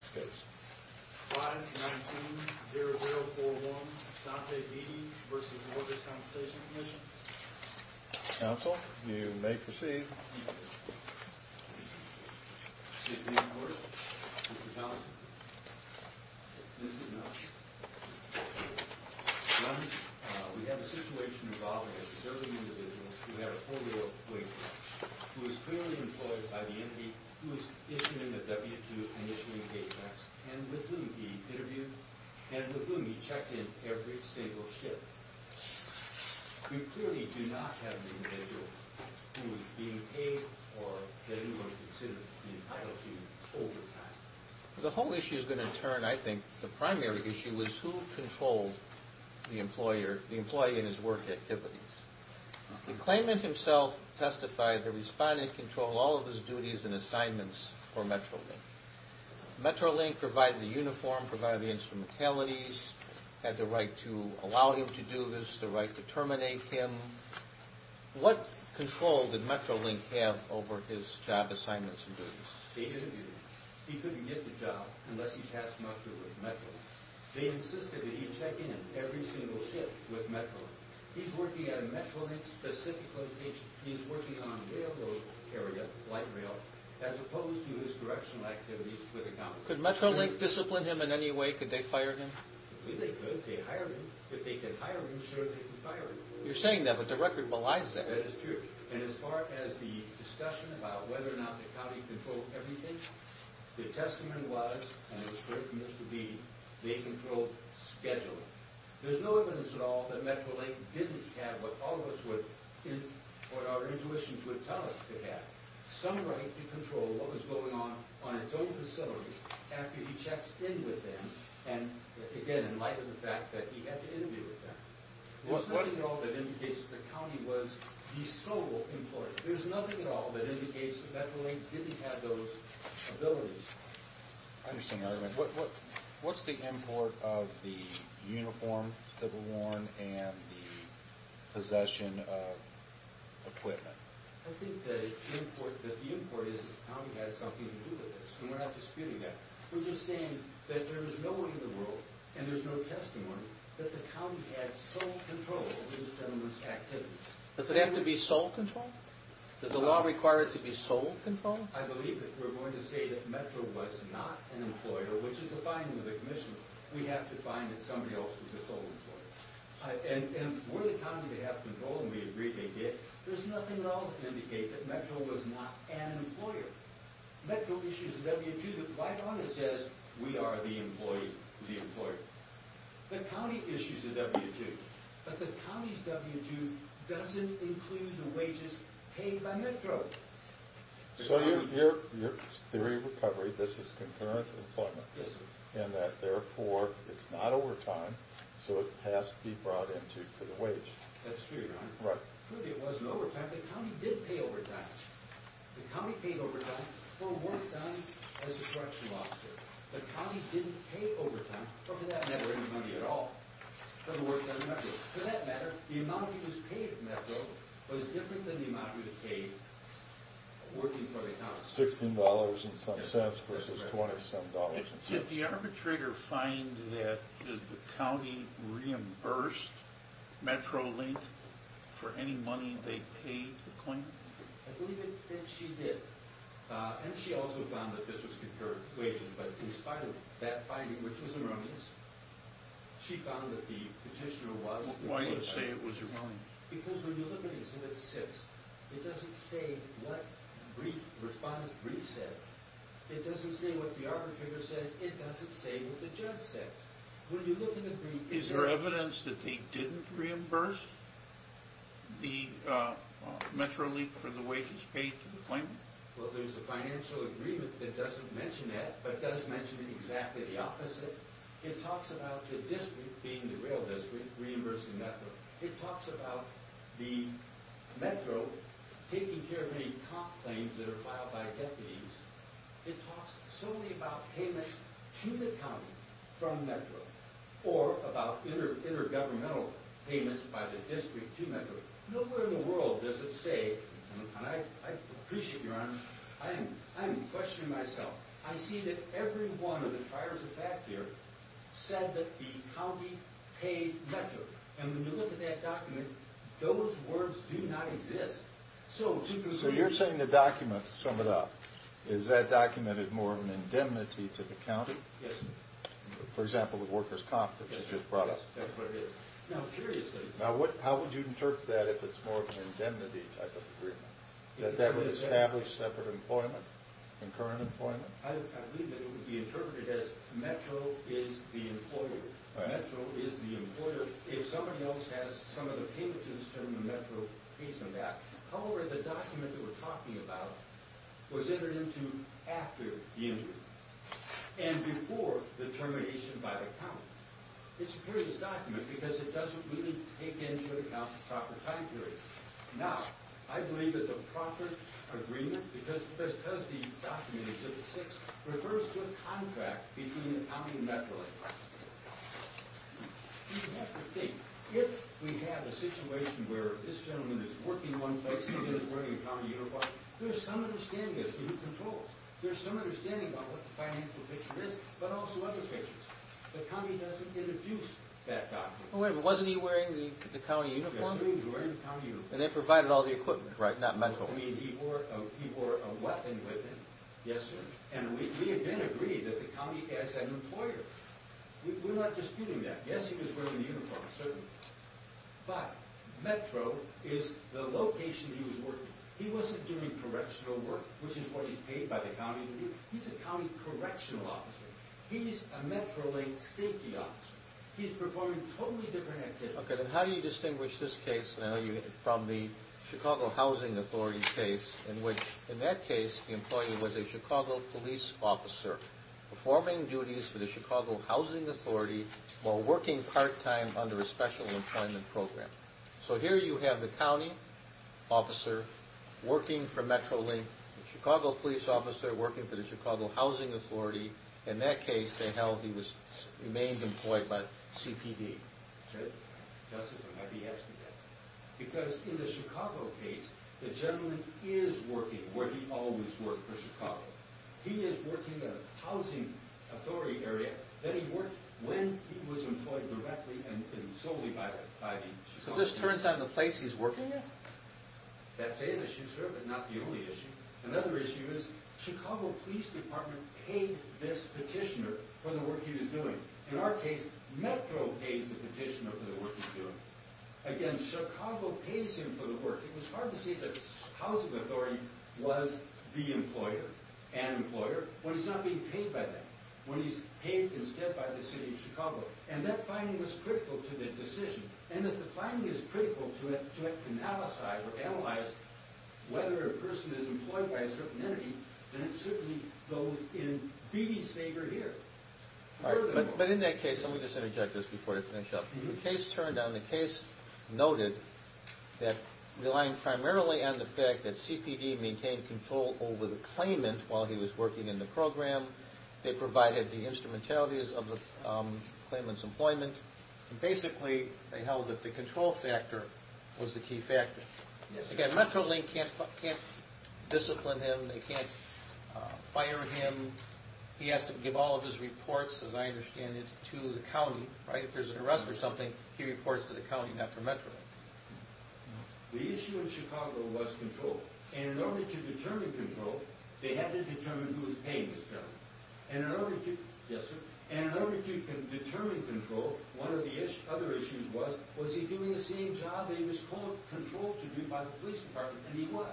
519-0041, Dante Beattie v. The Workers' Compensation Commission Counsel, you may proceed Mr. McWhorter, Mr. Townsend, this is not true One, we have a situation involving a preserving individual who had a polio claim who was clearly employed by the entity who was issued him a W-2 and issuing a gate pass and with whom he interviewed and with whom he checked in every single shift You clearly do not have the individual who is being paid or anyone considered to be entitled to overtime The whole issue is going to turn, I think, the primary issue is who controlled the employer, the employee and his work activities The claimant himself testified that the respondent controlled all of his duties and assignments for Metrolink Metrolink provided the uniform, provided the instrumentalities, had the right to allow him to do this, the right to terminate him What control did Metrolink have over his job assignments and duties? He couldn't get the job unless he passed muster with Metrolink They insisted that he check in every single shift with Metrolink He's working at a Metrolink-specific location He's working on a railroad area, light rail, as opposed to his directional activities for the county Could Metrolink discipline him in any way? Could they fire him? They could, they hired him. If they could hire him, sure they could fire him You're saying that, but the record belies that That is true, and as far as the discussion about whether or not the county controlled everything The testament was, and it was clear from Mr. Beatty, they controlled scheduling There's no evidence at all that Metrolink didn't have what all of us would, what our intuitions would tell us it had Some right to control what was going on on its own facility after he checks in with them And again, in light of the fact that he had to interview with them There's nothing at all that indicates that the county was the sole employer There's nothing at all that indicates that Metrolink didn't have those abilities What's the import of the uniform that was worn and the possession of equipment? I think that the import is that the county had something to do with this And we're not disputing that We're just saying that there is no one in the world, and there's no testimony That the county had sole control over the gentleman's activities Does it have to be sole control? Does the law require it to be sole control? I believe it. We're going to say that Metro was not an employer, which is the finding of the commission We have to find that somebody else was the sole employer And were the county to have control, and we agree they did There's nothing at all to indicate that Metro was not an employer Metro issues a W-2 that right on it says, we are the employee, the employer The county issues a W-2, but the county's W-2 doesn't include the wages paid by Metro So your theory of recovery, this is concurrent with employment Yes, sir And that, therefore, it's not overtime, so it has to be brought into for the wage That's true, Your Honor Right It wasn't overtime, the county did pay overtime The county paid overtime for work done as a correctional officer The county didn't pay overtime for, for that matter, any money at all For the work done at Metro It was different than the amount you paid working for the house Sixteen dollars and some cents versus twenty-some dollars and cents Did the arbitrator find that the county reimbursed MetroLink for any money they paid the claimant? I believe that she did, and she also found that this was concurrent with wages But in spite of that finding, which was erroneous, she found that the petitioner was Why do you say it was erroneous? Because when you look at Exhibit 6, it doesn't say what the respondent's brief says It doesn't say what the arbitrator says, it doesn't say what the judge says When you look at the brief Is there evidence that they didn't reimburse the MetroLink for the wages paid to the claimant? Well, there's a financial agreement that doesn't mention that, but does mention exactly the opposite It talks about the district, being the rail district, reimbursing Metro It talks about the Metro taking care of any comp claims that are filed by deputies It talks solely about payments to the county from Metro Or about intergovernmental payments by the district to Metro Nowhere in the world does it say, and I appreciate your honesty, I am questioning myself I see that every one of the triers of fact here said that the county paid Metro And when you look at that document, those words do not exist So you're saying the document, to sum it up, is that document is more of an indemnity to the county? Yes For example, the workers' comp that you just brought up Yes, that's what it is Now curiously Now how would you interpret that if it's more of an indemnity type of agreement? That that would establish separate employment, concurrent employment? I believe that it would be interpreted as Metro is the employer If somebody else has some of the payments and it's termed the Metro Payment Act However, the document that we're talking about was entered into after the injury And before the termination by the county It's a curious document because it doesn't really take into account the proper time period Now, I believe it's a proper agreement because the documentation, the 6th, refers to a contract between the county and Metro You have to think, if we have a situation where this gentleman is working one place and he's wearing a county uniform There's some understanding as to who controls There's some understanding about what the financial picture is, but also other pictures The county doesn't introduce that document Wait a minute, wasn't he wearing the county uniform? Yes, sir, he was wearing the county uniform And they provided all the equipment, right, not Metro I mean, he wore a weapon with him Yes, sir And we again agree that the county has an employer We're not disputing that Yes, he was wearing the uniform, certainly But Metro is the location he was working He wasn't doing correctional work, which is what he's paid by the county to do He's a county correctional officer He's a Metro-linked safety officer He's performing totally different activities Okay, then how do you distinguish this case from the Chicago Housing Authority case In which, in that case, the employee was a Chicago police officer Performing duties for the Chicago Housing Authority While working part-time under a special employment program So here you have the county officer working for Metro-link The Chicago police officer working for the Chicago Housing Authority In that case, they held he remained employed by CPD Justice, I might be asking that Because in the Chicago case, the gentleman is working where he always worked for Chicago He is working in a housing authority area That he worked when he was employed directly and solely by the Chicago police So this turns out the place he's working at? That's an issue, sir, but not the only issue Another issue is, Chicago Police Department paid this petitioner for the work he was doing In our case, Metro pays the petitioner for the work he's doing Again, Chicago pays him for the work It was hard to see that the housing authority was the employer An employer, when he's not being paid by them When he's paid instead by the city of Chicago And that finding was critical to the decision And if the finding is critical to analyze Whether a person is employed by a certain entity Then it certainly goes in BB's favor here But in that case, let me just interject this before I finish up The case turned down, the case noted That relying primarily on the fact that CPD maintained control over the claimant While he was working in the program They provided the instrumentalities of the claimant's employment Basically, they held that the control factor was the key factor Again, Metrolink can't discipline him, they can't fire him He has to give all of his reports, as I understand it, to the county If there's an arrest or something, he reports to the county, not to Metrolink The issue in Chicago was control And in order to determine control They had to determine who was paying this gentleman And in order to determine control One of the other issues was Was he doing the same job that he was told control to do by the police department And he was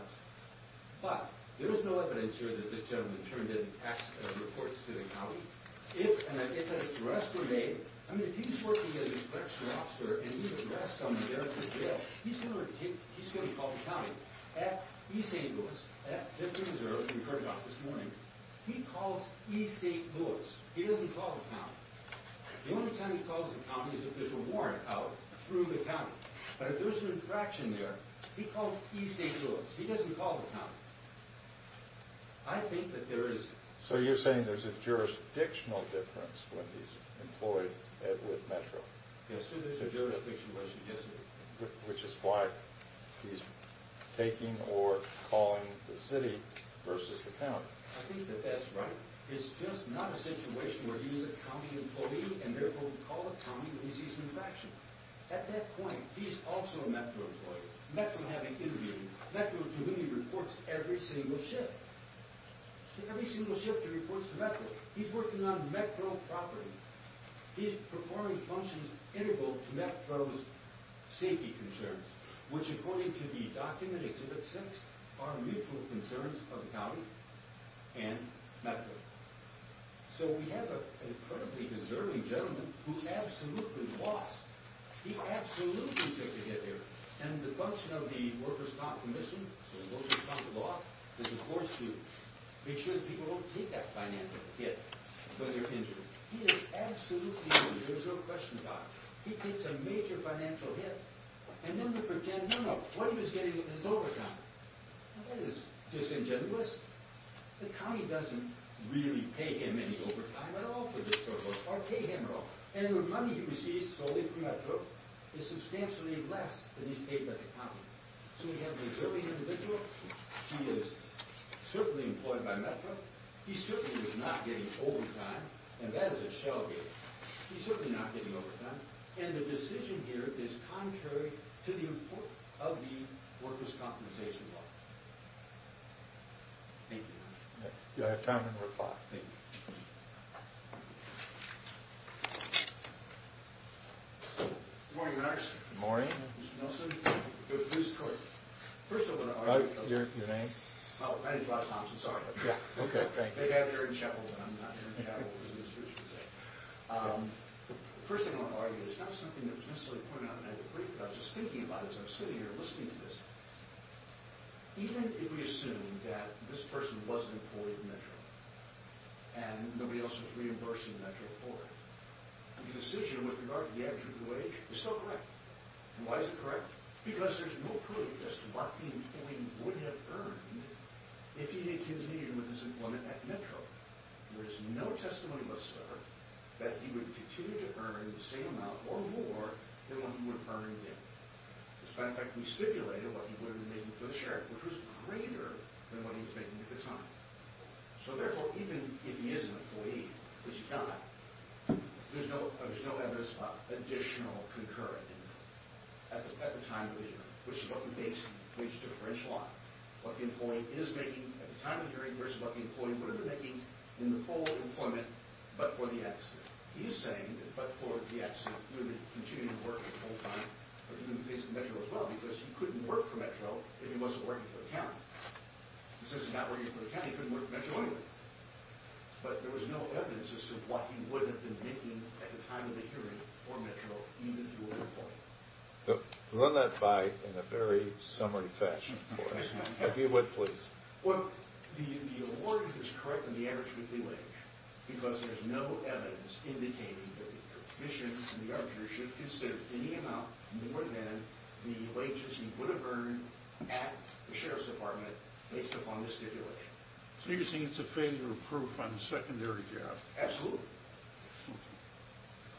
But, there is no evidence here that this gentleman Turned in reports to the county If an arrest were made I mean, if he's working as a correctional officer And he's arrested on the day of his jail He's going to be called to county At E. St. Louis, at Fifth and Reserve, in Kernshock this morning He calls E. St. Louis He doesn't call the county The only time he calls the county is if there's a warrant out through the county But if there's an infraction there He calls E. St. Louis He doesn't call the county I think that there is... So you're saying there's a jurisdictional difference When he's employed with Metro Yes, so there's a jurisdiction, yes Which is why he's taking or calling the city Versus the county I think that that's right It's just not a situation where he's a county employee And therefore he calls the county when he sees an infraction At that point, he's also a Metro employee Metro having intervened Metro to whom he reports every single shift Every single shift he reports to Metro He's working on Metro property He's performing functions integral to Metro's safety concerns Which according to the document, Exhibit 6 Are mutual concerns of the county and Metro So we have an incredibly deserving gentleman Who absolutely lost He absolutely took a hit there And the function of the Workers' Comp Commission The Workers' Comp Law Is of course to make sure that people don't take that financial hit When they're injured He is absolutely injured, there's no question about it He takes a major financial hit And then we pretend, no, no What he was getting with his overtime That is disingenuous The county doesn't really pay him any overtime at all for this service Or pay him at all And the money he receives solely from Metro Is substantially less than he's paid by the county So we have a deserving individual He is certainly employed by Metro He certainly is not getting overtime And that is a shell game He's certainly not getting overtime And the decision here is contrary To the importance of the Workers' Compensation Law Thank you Do I have time on Report 5? Thank you Good morning, Mr. Nelson Mr. Nelson First of all, I want to argue Your name? Oh, my name's Bob Thompson, sorry Yeah, okay, thank you They have me here in Chapel Hill And I'm not here in Chapel Hill As the administration would say The first thing I want to argue Is not something that was necessarily pointed out in that report But I was just thinking about it As I was sitting here listening to this Even if we assume that this person was an employee of Metro And nobody else was reimbursing Metro for it The decision with regard to the average wage is still correct And why is it correct? Because there's no proof as to what the employee would have earned If he had continued with his employment at Metro There is no testimony whatsoever That he would continue to earn the same amount or more Than what he would have earned there As a matter of fact, we stipulated what he would have been making for the sheriff Which was greater than what he was making at the time So therefore, even if he is an employee Which he kind of is There's no evidence of additional concurrent income At the time of the hearing Which is what we base the wage differential on What the employee is making at the time of the hearing Versus what the employee would have been making in the fall of employment But for the accident He is saying that but for the accident He would have been continuing to work full time But he would have been facing Metro as well Because he couldn't work for Metro If he wasn't working for the county He says he's not working for the county He couldn't work for Metro anyway But there was no evidence as to what he would have been making At the time of the hearing for Metro Even if he were an employee Run that by in a very summary fashion for us If you would, please Well, the award is correct in the average weekly wage Because there's no evidence Indicating that the commission and the arbiter Should consider any amount more than The wages he would have earned At the sheriff's department Based upon the stipulation So you're saying it's a failure of proof on the secondary job Absolutely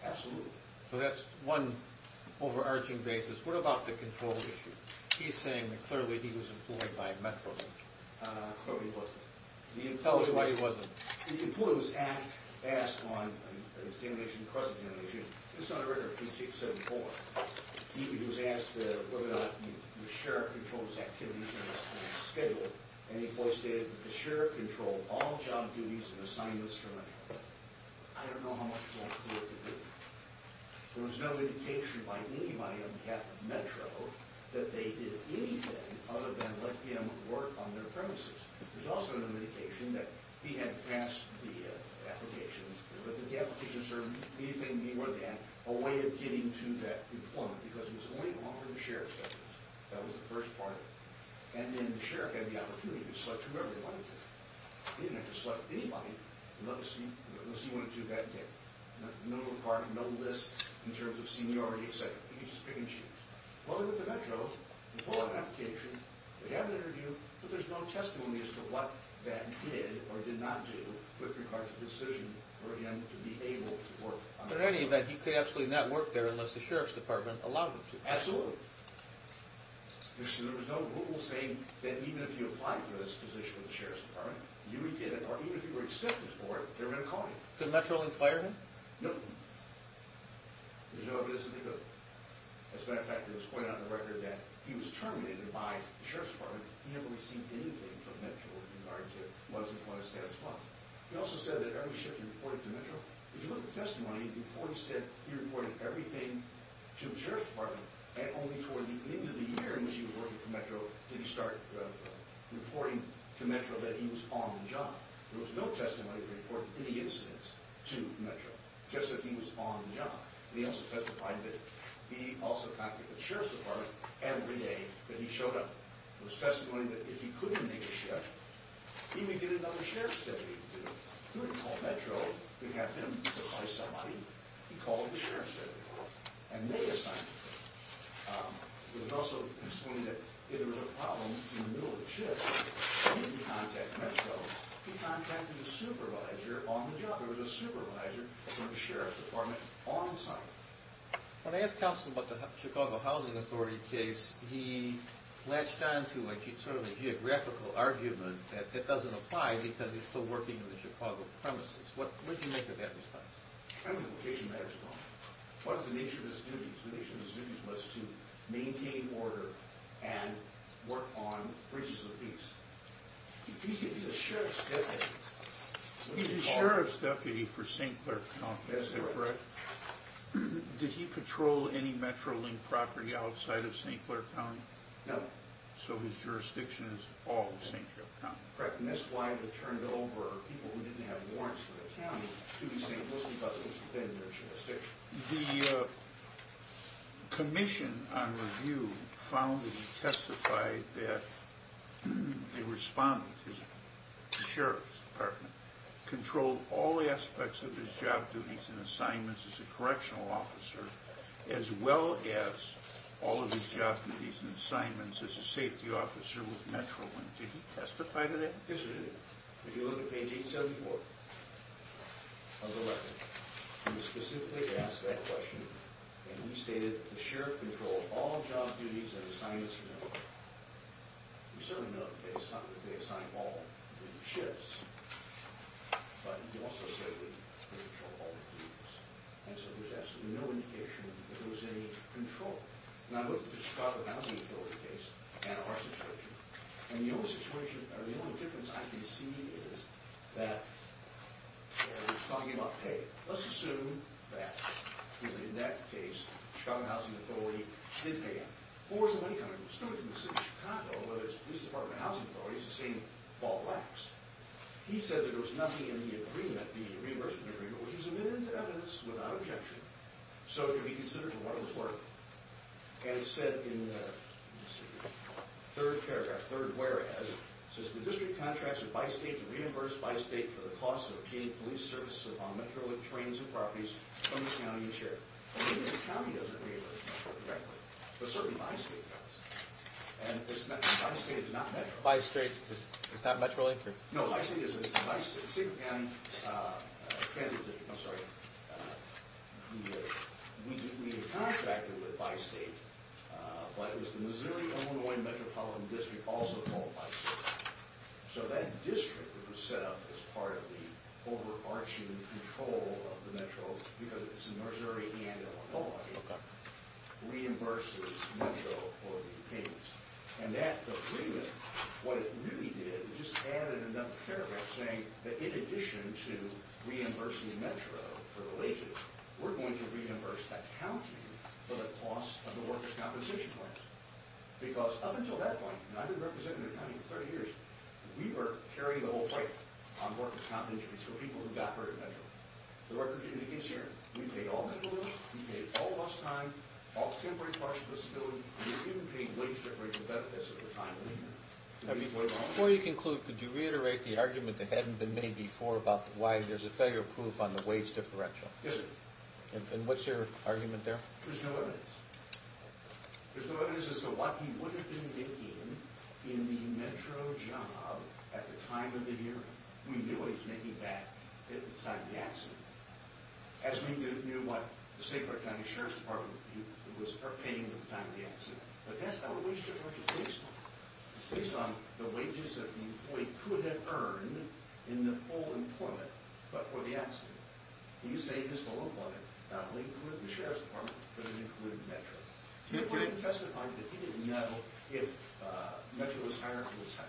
Absolutely So that's one overarching basis What about the control issue? He's saying that clearly he was employed by Metro No, he wasn't Tell us why he wasn't The employee was asked on The stipulation, the present stipulation It's on a record of P674 He was asked whether or not The sheriff controlled his activities And his schedule And he stated that the sheriff Controlled all job duties and assignments For Metro I don't know how much more clear to do There was no indication by anybody On behalf of Metro That they did anything Other than let him work on their premises There's also no indication that He had passed the application But that the application served Anything more than a way of getting To that employment Because he was only offered the sheriff's services That was the first part And then the sheriff had the opportunity To select whoever he wanted to He didn't have to select anybody Unless he wanted to that day In the middle of the park, no list In terms of seniority, etc. He could just pick and choose Well, they went to Metro, they filled out an application They had an interview, but there's no testimony As to what that did or did not do With regard to the decision For him to be able to work But in any event, he could absolutely not work there Unless the sheriff's department allowed him to Absolutely There was no rule saying that even if you applied For this position with the sheriff's department You would get it, or even if you were accepted for it They were going to call you Could Metro only fire him? No As a matter of fact, it was pointed out in the record That he was terminated by the sheriff's department He never received anything from Metro With regard to his employment status He also said that every shift he reported to Metro If you look at the testimony Before he said he reported everything To the sheriff's department And only toward the end of the year In which he was working for Metro Did he start reporting to Metro That he was on the job There was no testimony to report any incidents To Metro Just that he was on the job He also testified that he also contacted the sheriff's department Every day that he showed up There was testimony that if he couldn't make a shift He may get another sheriff's deputy to do it He wouldn't call Metro To have him replace somebody He called the sheriff's deputy And they assigned him It was also explained that If there was a problem in the middle of the shift He didn't contact Metro He contacted the supervisor On the job There was a supervisor from the sheriff's department On site When I asked Councilman about the Chicago Housing Authority case He latched onto Sort of a geographical argument That that doesn't apply Because he's still working on the Chicago premises What did you make of that response? I think the location matters a lot Because the nature of his duties Was to maintain order And work on Bridges of Peace He's a sheriff's deputy He's a sheriff's deputy For St. Clair County Is that correct? Did he patrol any Metro-linked property Outside of St. Clair County? No So his jurisdiction is all of St. Clair County Correct And that's why they turned over People who didn't have warrants for the county To the St. Louis Department Within their jurisdiction The commission on review Found that he testified that A respondent From the sheriff's department Controlled all aspects Of his job duties and assignments As a correctional officer As well as All of his job duties and assignments As a safety officer with Metro-link Did he testify to that? Yes he did If you look at page 874 Of the letter He was specifically asked that question And he stated the sheriff controlled All job duties and assignments You certainly know They assigned all But he also said They controlled all duties And so there's absolutely no indication That there was any control Now look at the Chicago Housing Authority case And our situation And the only difference I can see Is that He was talking about pay Let's assume that In that case The Chicago Housing Authority did pay him Or somebody coming from the city of Chicago Whether it's the police department or housing authorities The same ball waxed He said that there was nothing in the agreement The reimbursement agreement Which was admitted to evidence without objection So it could be considered for what it was worth And he said In the Third paragraph, third whereas The district contracts with Bi-State to reimburse Bi-State for the cost of paying police services Upon Metro-link trains and properties From the county and sheriff The county doesn't reimburse But certainly Bi-State does And Bi-State is not Metro Bi-State is not Metro-Link? No, Bi-State is I'm sorry We contracted with Bi-State But it was the Missouri-Illinois Metropolitan District Also called Bi-State So that district Was set up as part of the overarching Control of the Metro Because it's in Missouri and Illinois Reimburses Metro for the payments And that agreement What it really did It just added another paragraph saying That in addition to Reimbursing Metro for the wages We're going to reimburse the county For the cost of the workers' Compensation plans Because up until that point And I've been representing the county for 30 years We were carrying the whole fight On workers' compensation So people who got hurt in Metro The record indicates here We paid all mental illness We paid all lost time All temporary partial disability We even paid wage differential benefits At the time of the hearing Before you conclude, could you reiterate the argument That hadn't been made before about Why there's a failure proof on the wage differential Yes, sir And what's your argument there? There's no evidence There's no evidence as to what he would have been making In the Metro job At the time of the hearing We knew what he was making back At the time of the accident As we knew what the St. Clair County Sheriff's Department Was paying at the time of the accident But that's not a wage differential case It's based on the wages That the employee could have earned In the full employment But for the accident He saved his full employment Not only for the Sheriff's Department But it included Metro He didn't know if Metro was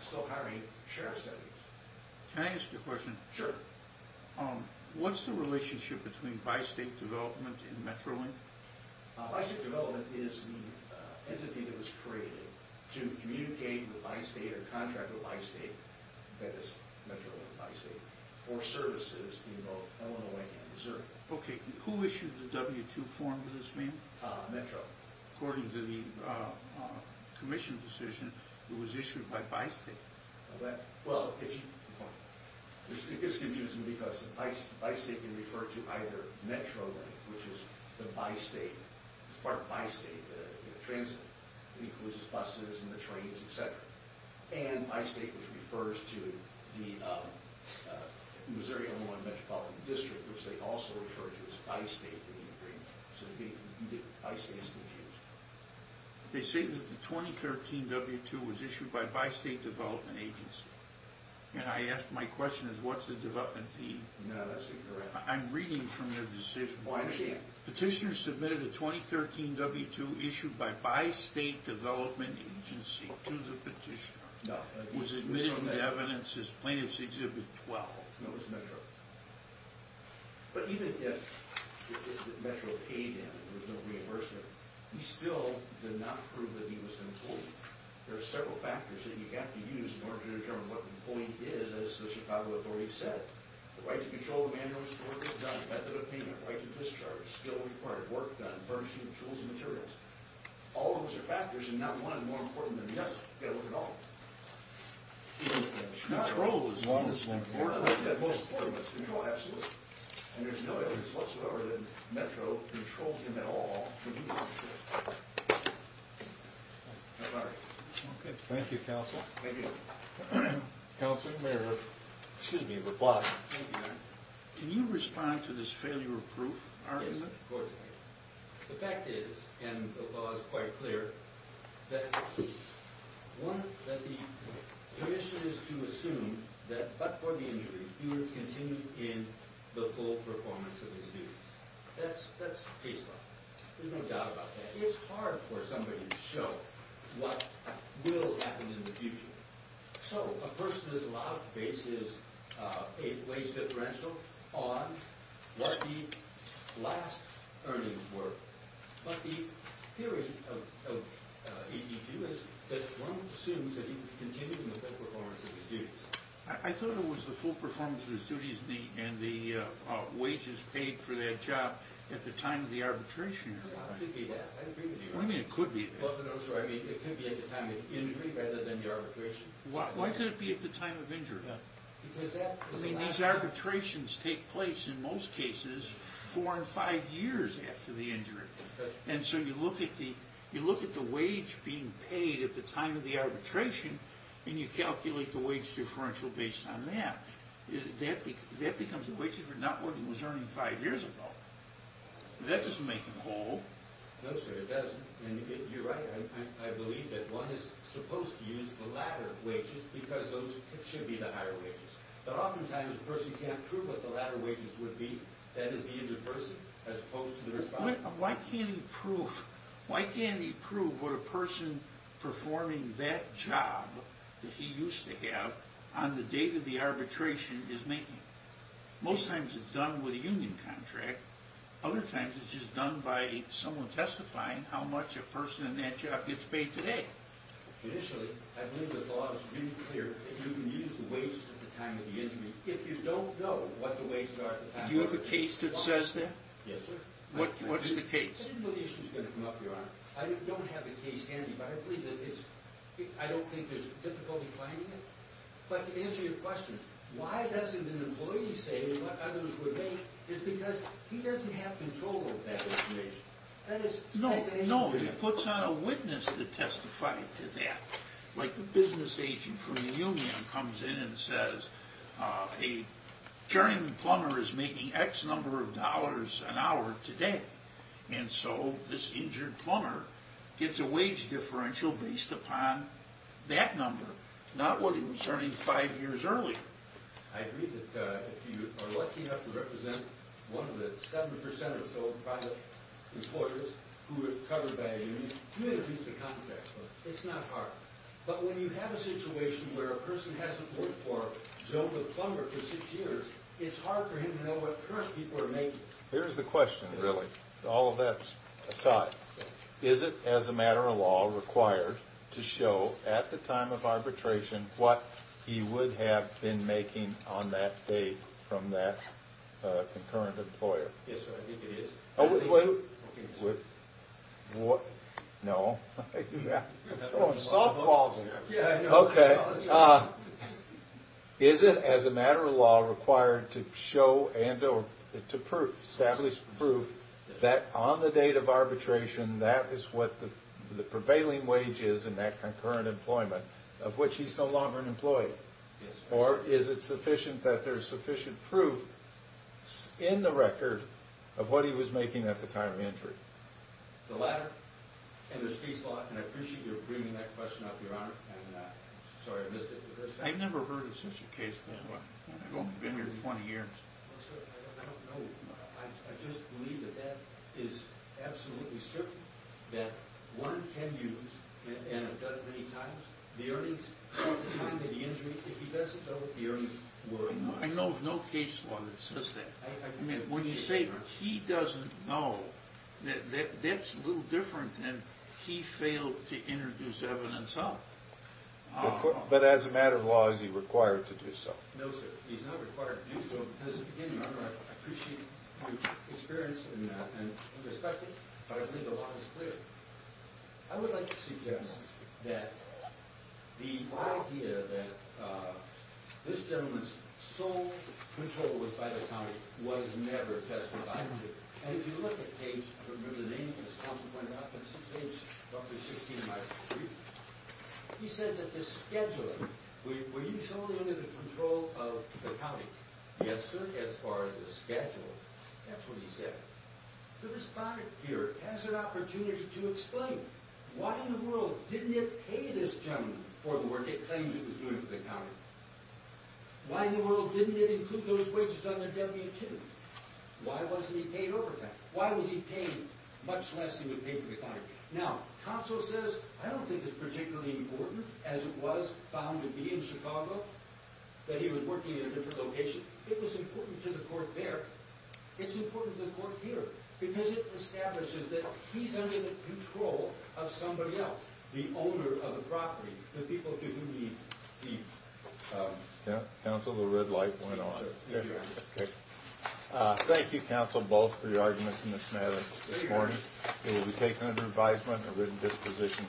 still hiring sheriff's deputies Can I ask you a question? Sure What's the relationship between Bi-State Development and MetroLink? Bi-State Development is The entity that was created To communicate with Bi-State A contract with Bi-State That is MetroLink and Bi-State For services in both Illinois and Missouri Okay Who issued the W-2 form for this meeting? Metro According to the commission decision It was issued by Bi-State Well, if you It's confusing because Bi-State can refer to either MetroLink, which is the Bi-State It's part of Bi-State The transit Buses, trains, etc And Bi-State which refers to The Missouri-Illinois Metropolitan District Which they also refer to as Bi-State So Bi-State is confused They say that the 2013 W-2 Was issued by Bi-State Development Agency And I asked My question is, what's the development fee? No, that's incorrect I'm reading from your decision Petitioner submitted a 2013 W-2 Issued by Bi-State Development Agency to the petitioner No It was admitted into evidence as Plaintiff's Exhibit 12 No, it was Metro But even if Metro paid him There was no reimbursement He still did not prove that he was employed There are several factors that you have to use In order to determine what an employee is As the Chicago Authority said The right to control the manuals, the work that's done Method of payment, right to discharge, skill required Work done, furnishing, tools and materials All of those are factors And not one is more important than the other You've got to look at all Control is the most important Control, absolutely And there's no evidence whatsoever That Metro controlled him at all Thank you I'm sorry Thank you, Counsel Counsel, may I have Excuse me, a reply Can you respond to this failure of proof argument? Yes, of course The fact is And the law is quite clear That The issue is to assume That but for the injury He would continue in The full performance of his duties That's case law There's no doubt about that It's hard for somebody to show What will happen in the future So a person is allowed to base his Wage differential On What the last Earnings were But the theory of AT2 is that one assumes That he would continue in the full performance of his duties I thought it was the full performance Of his duties and the Wages paid for that job At the time of the arbitration What do you mean it could be that? I mean it could be at the time of injury Rather than the arbitration Why could it be at the time of injury? I mean these arbitrations Take place in most cases Four or five years after the injury And so you look at the You look at the wage being Paid at the time of the arbitration And you calculate the wage differential Based on that That becomes the wages Not what he was earning five years ago That doesn't make them whole No sir it doesn't You're right, I believe that one is Supposed to use the latter wages Because those should be the higher wages But often times a person can't prove What the latter wages would be That is the end of person Why can't he prove Why can't he prove what a person Performing that job That he used to have On the date of the arbitration Is making Most times it's done with a union contract Other times it's just done by Someone testifying how much a person In that job gets paid today Initially I believe the law is Really clear that you can use the wage At the time of the injury If you don't know what the wages are Do you have a case that says that? Yes sir I didn't know the issue was going to come up your honor I don't have a case handy But I believe that it's I don't think there's difficulty finding it But to answer your question Why doesn't an employee say what others would think Is because he doesn't have control Of that information No, no He puts on a witness to testify to that Like the business agent From the union comes in and says A Carrying plumber is making X number Of dollars an hour today And so this injured Is differential based upon That number Not what he was earning five years earlier I agree that if you Are lucky enough to represent One of the seven percent of Employers who are covered by a union You introduce the contract It's not hard But when you have a situation where a person Hasn't worked for a plumber for six years It's hard for him to know what Current people are making Here's the question really All of that aside Is it as a matter of law Required to show at the time Of arbitration what He would have been making on that Date from that Concurrent employer Yes sir, I think it is What No Softballs here Okay Is it as a matter of law required To show and or To prove That on the date of arbitration That is what the Prevailing wage is in that concurrent employment Of which he is no longer an employee Or is it sufficient That there is sufficient proof In the record Of what he was making at the time of injury The latter And I appreciate you bringing that Question up your honor Sorry I missed it I've never heard of such a case I've only been here 20 years I don't know I just believe that that is Absolutely certain That one can use And have done it many times The early time of the injury If he doesn't know what the earnings were I know of no case law that says that I mean when you say He doesn't know That's a little different than He failed to introduce evidence Of But as a matter of law Is he required to do so No sir he is not required to do so I appreciate your experience In that and respect it But I believe the law is clear I would like to suggest That the idea That This gentleman's sole control Was by the county Was never testified to And if you look at page I don't remember the name He said that the scheduling Were you solely under the control Of the county Yes sir as far as the schedule That's what he said The respondent here Has an opportunity to explain Why in the world Didn't it pay this gentleman For the work it claims it was doing for the county Why in the world Didn't it include those wages On their W-2 Why wasn't he paid overtime Why was he paid Much less he would pay for the county Now counsel says I don't think it's particularly important As it was found to be in Chicago That he was working in a different location It was important to the court there It's important to the court here Because it establishes that He's under the control of somebody else The owner of the property The people to whom he Counsel the red light went on Thank you counsel Both for your arguments in this matter This morning it will be taken under advisement Of written disposition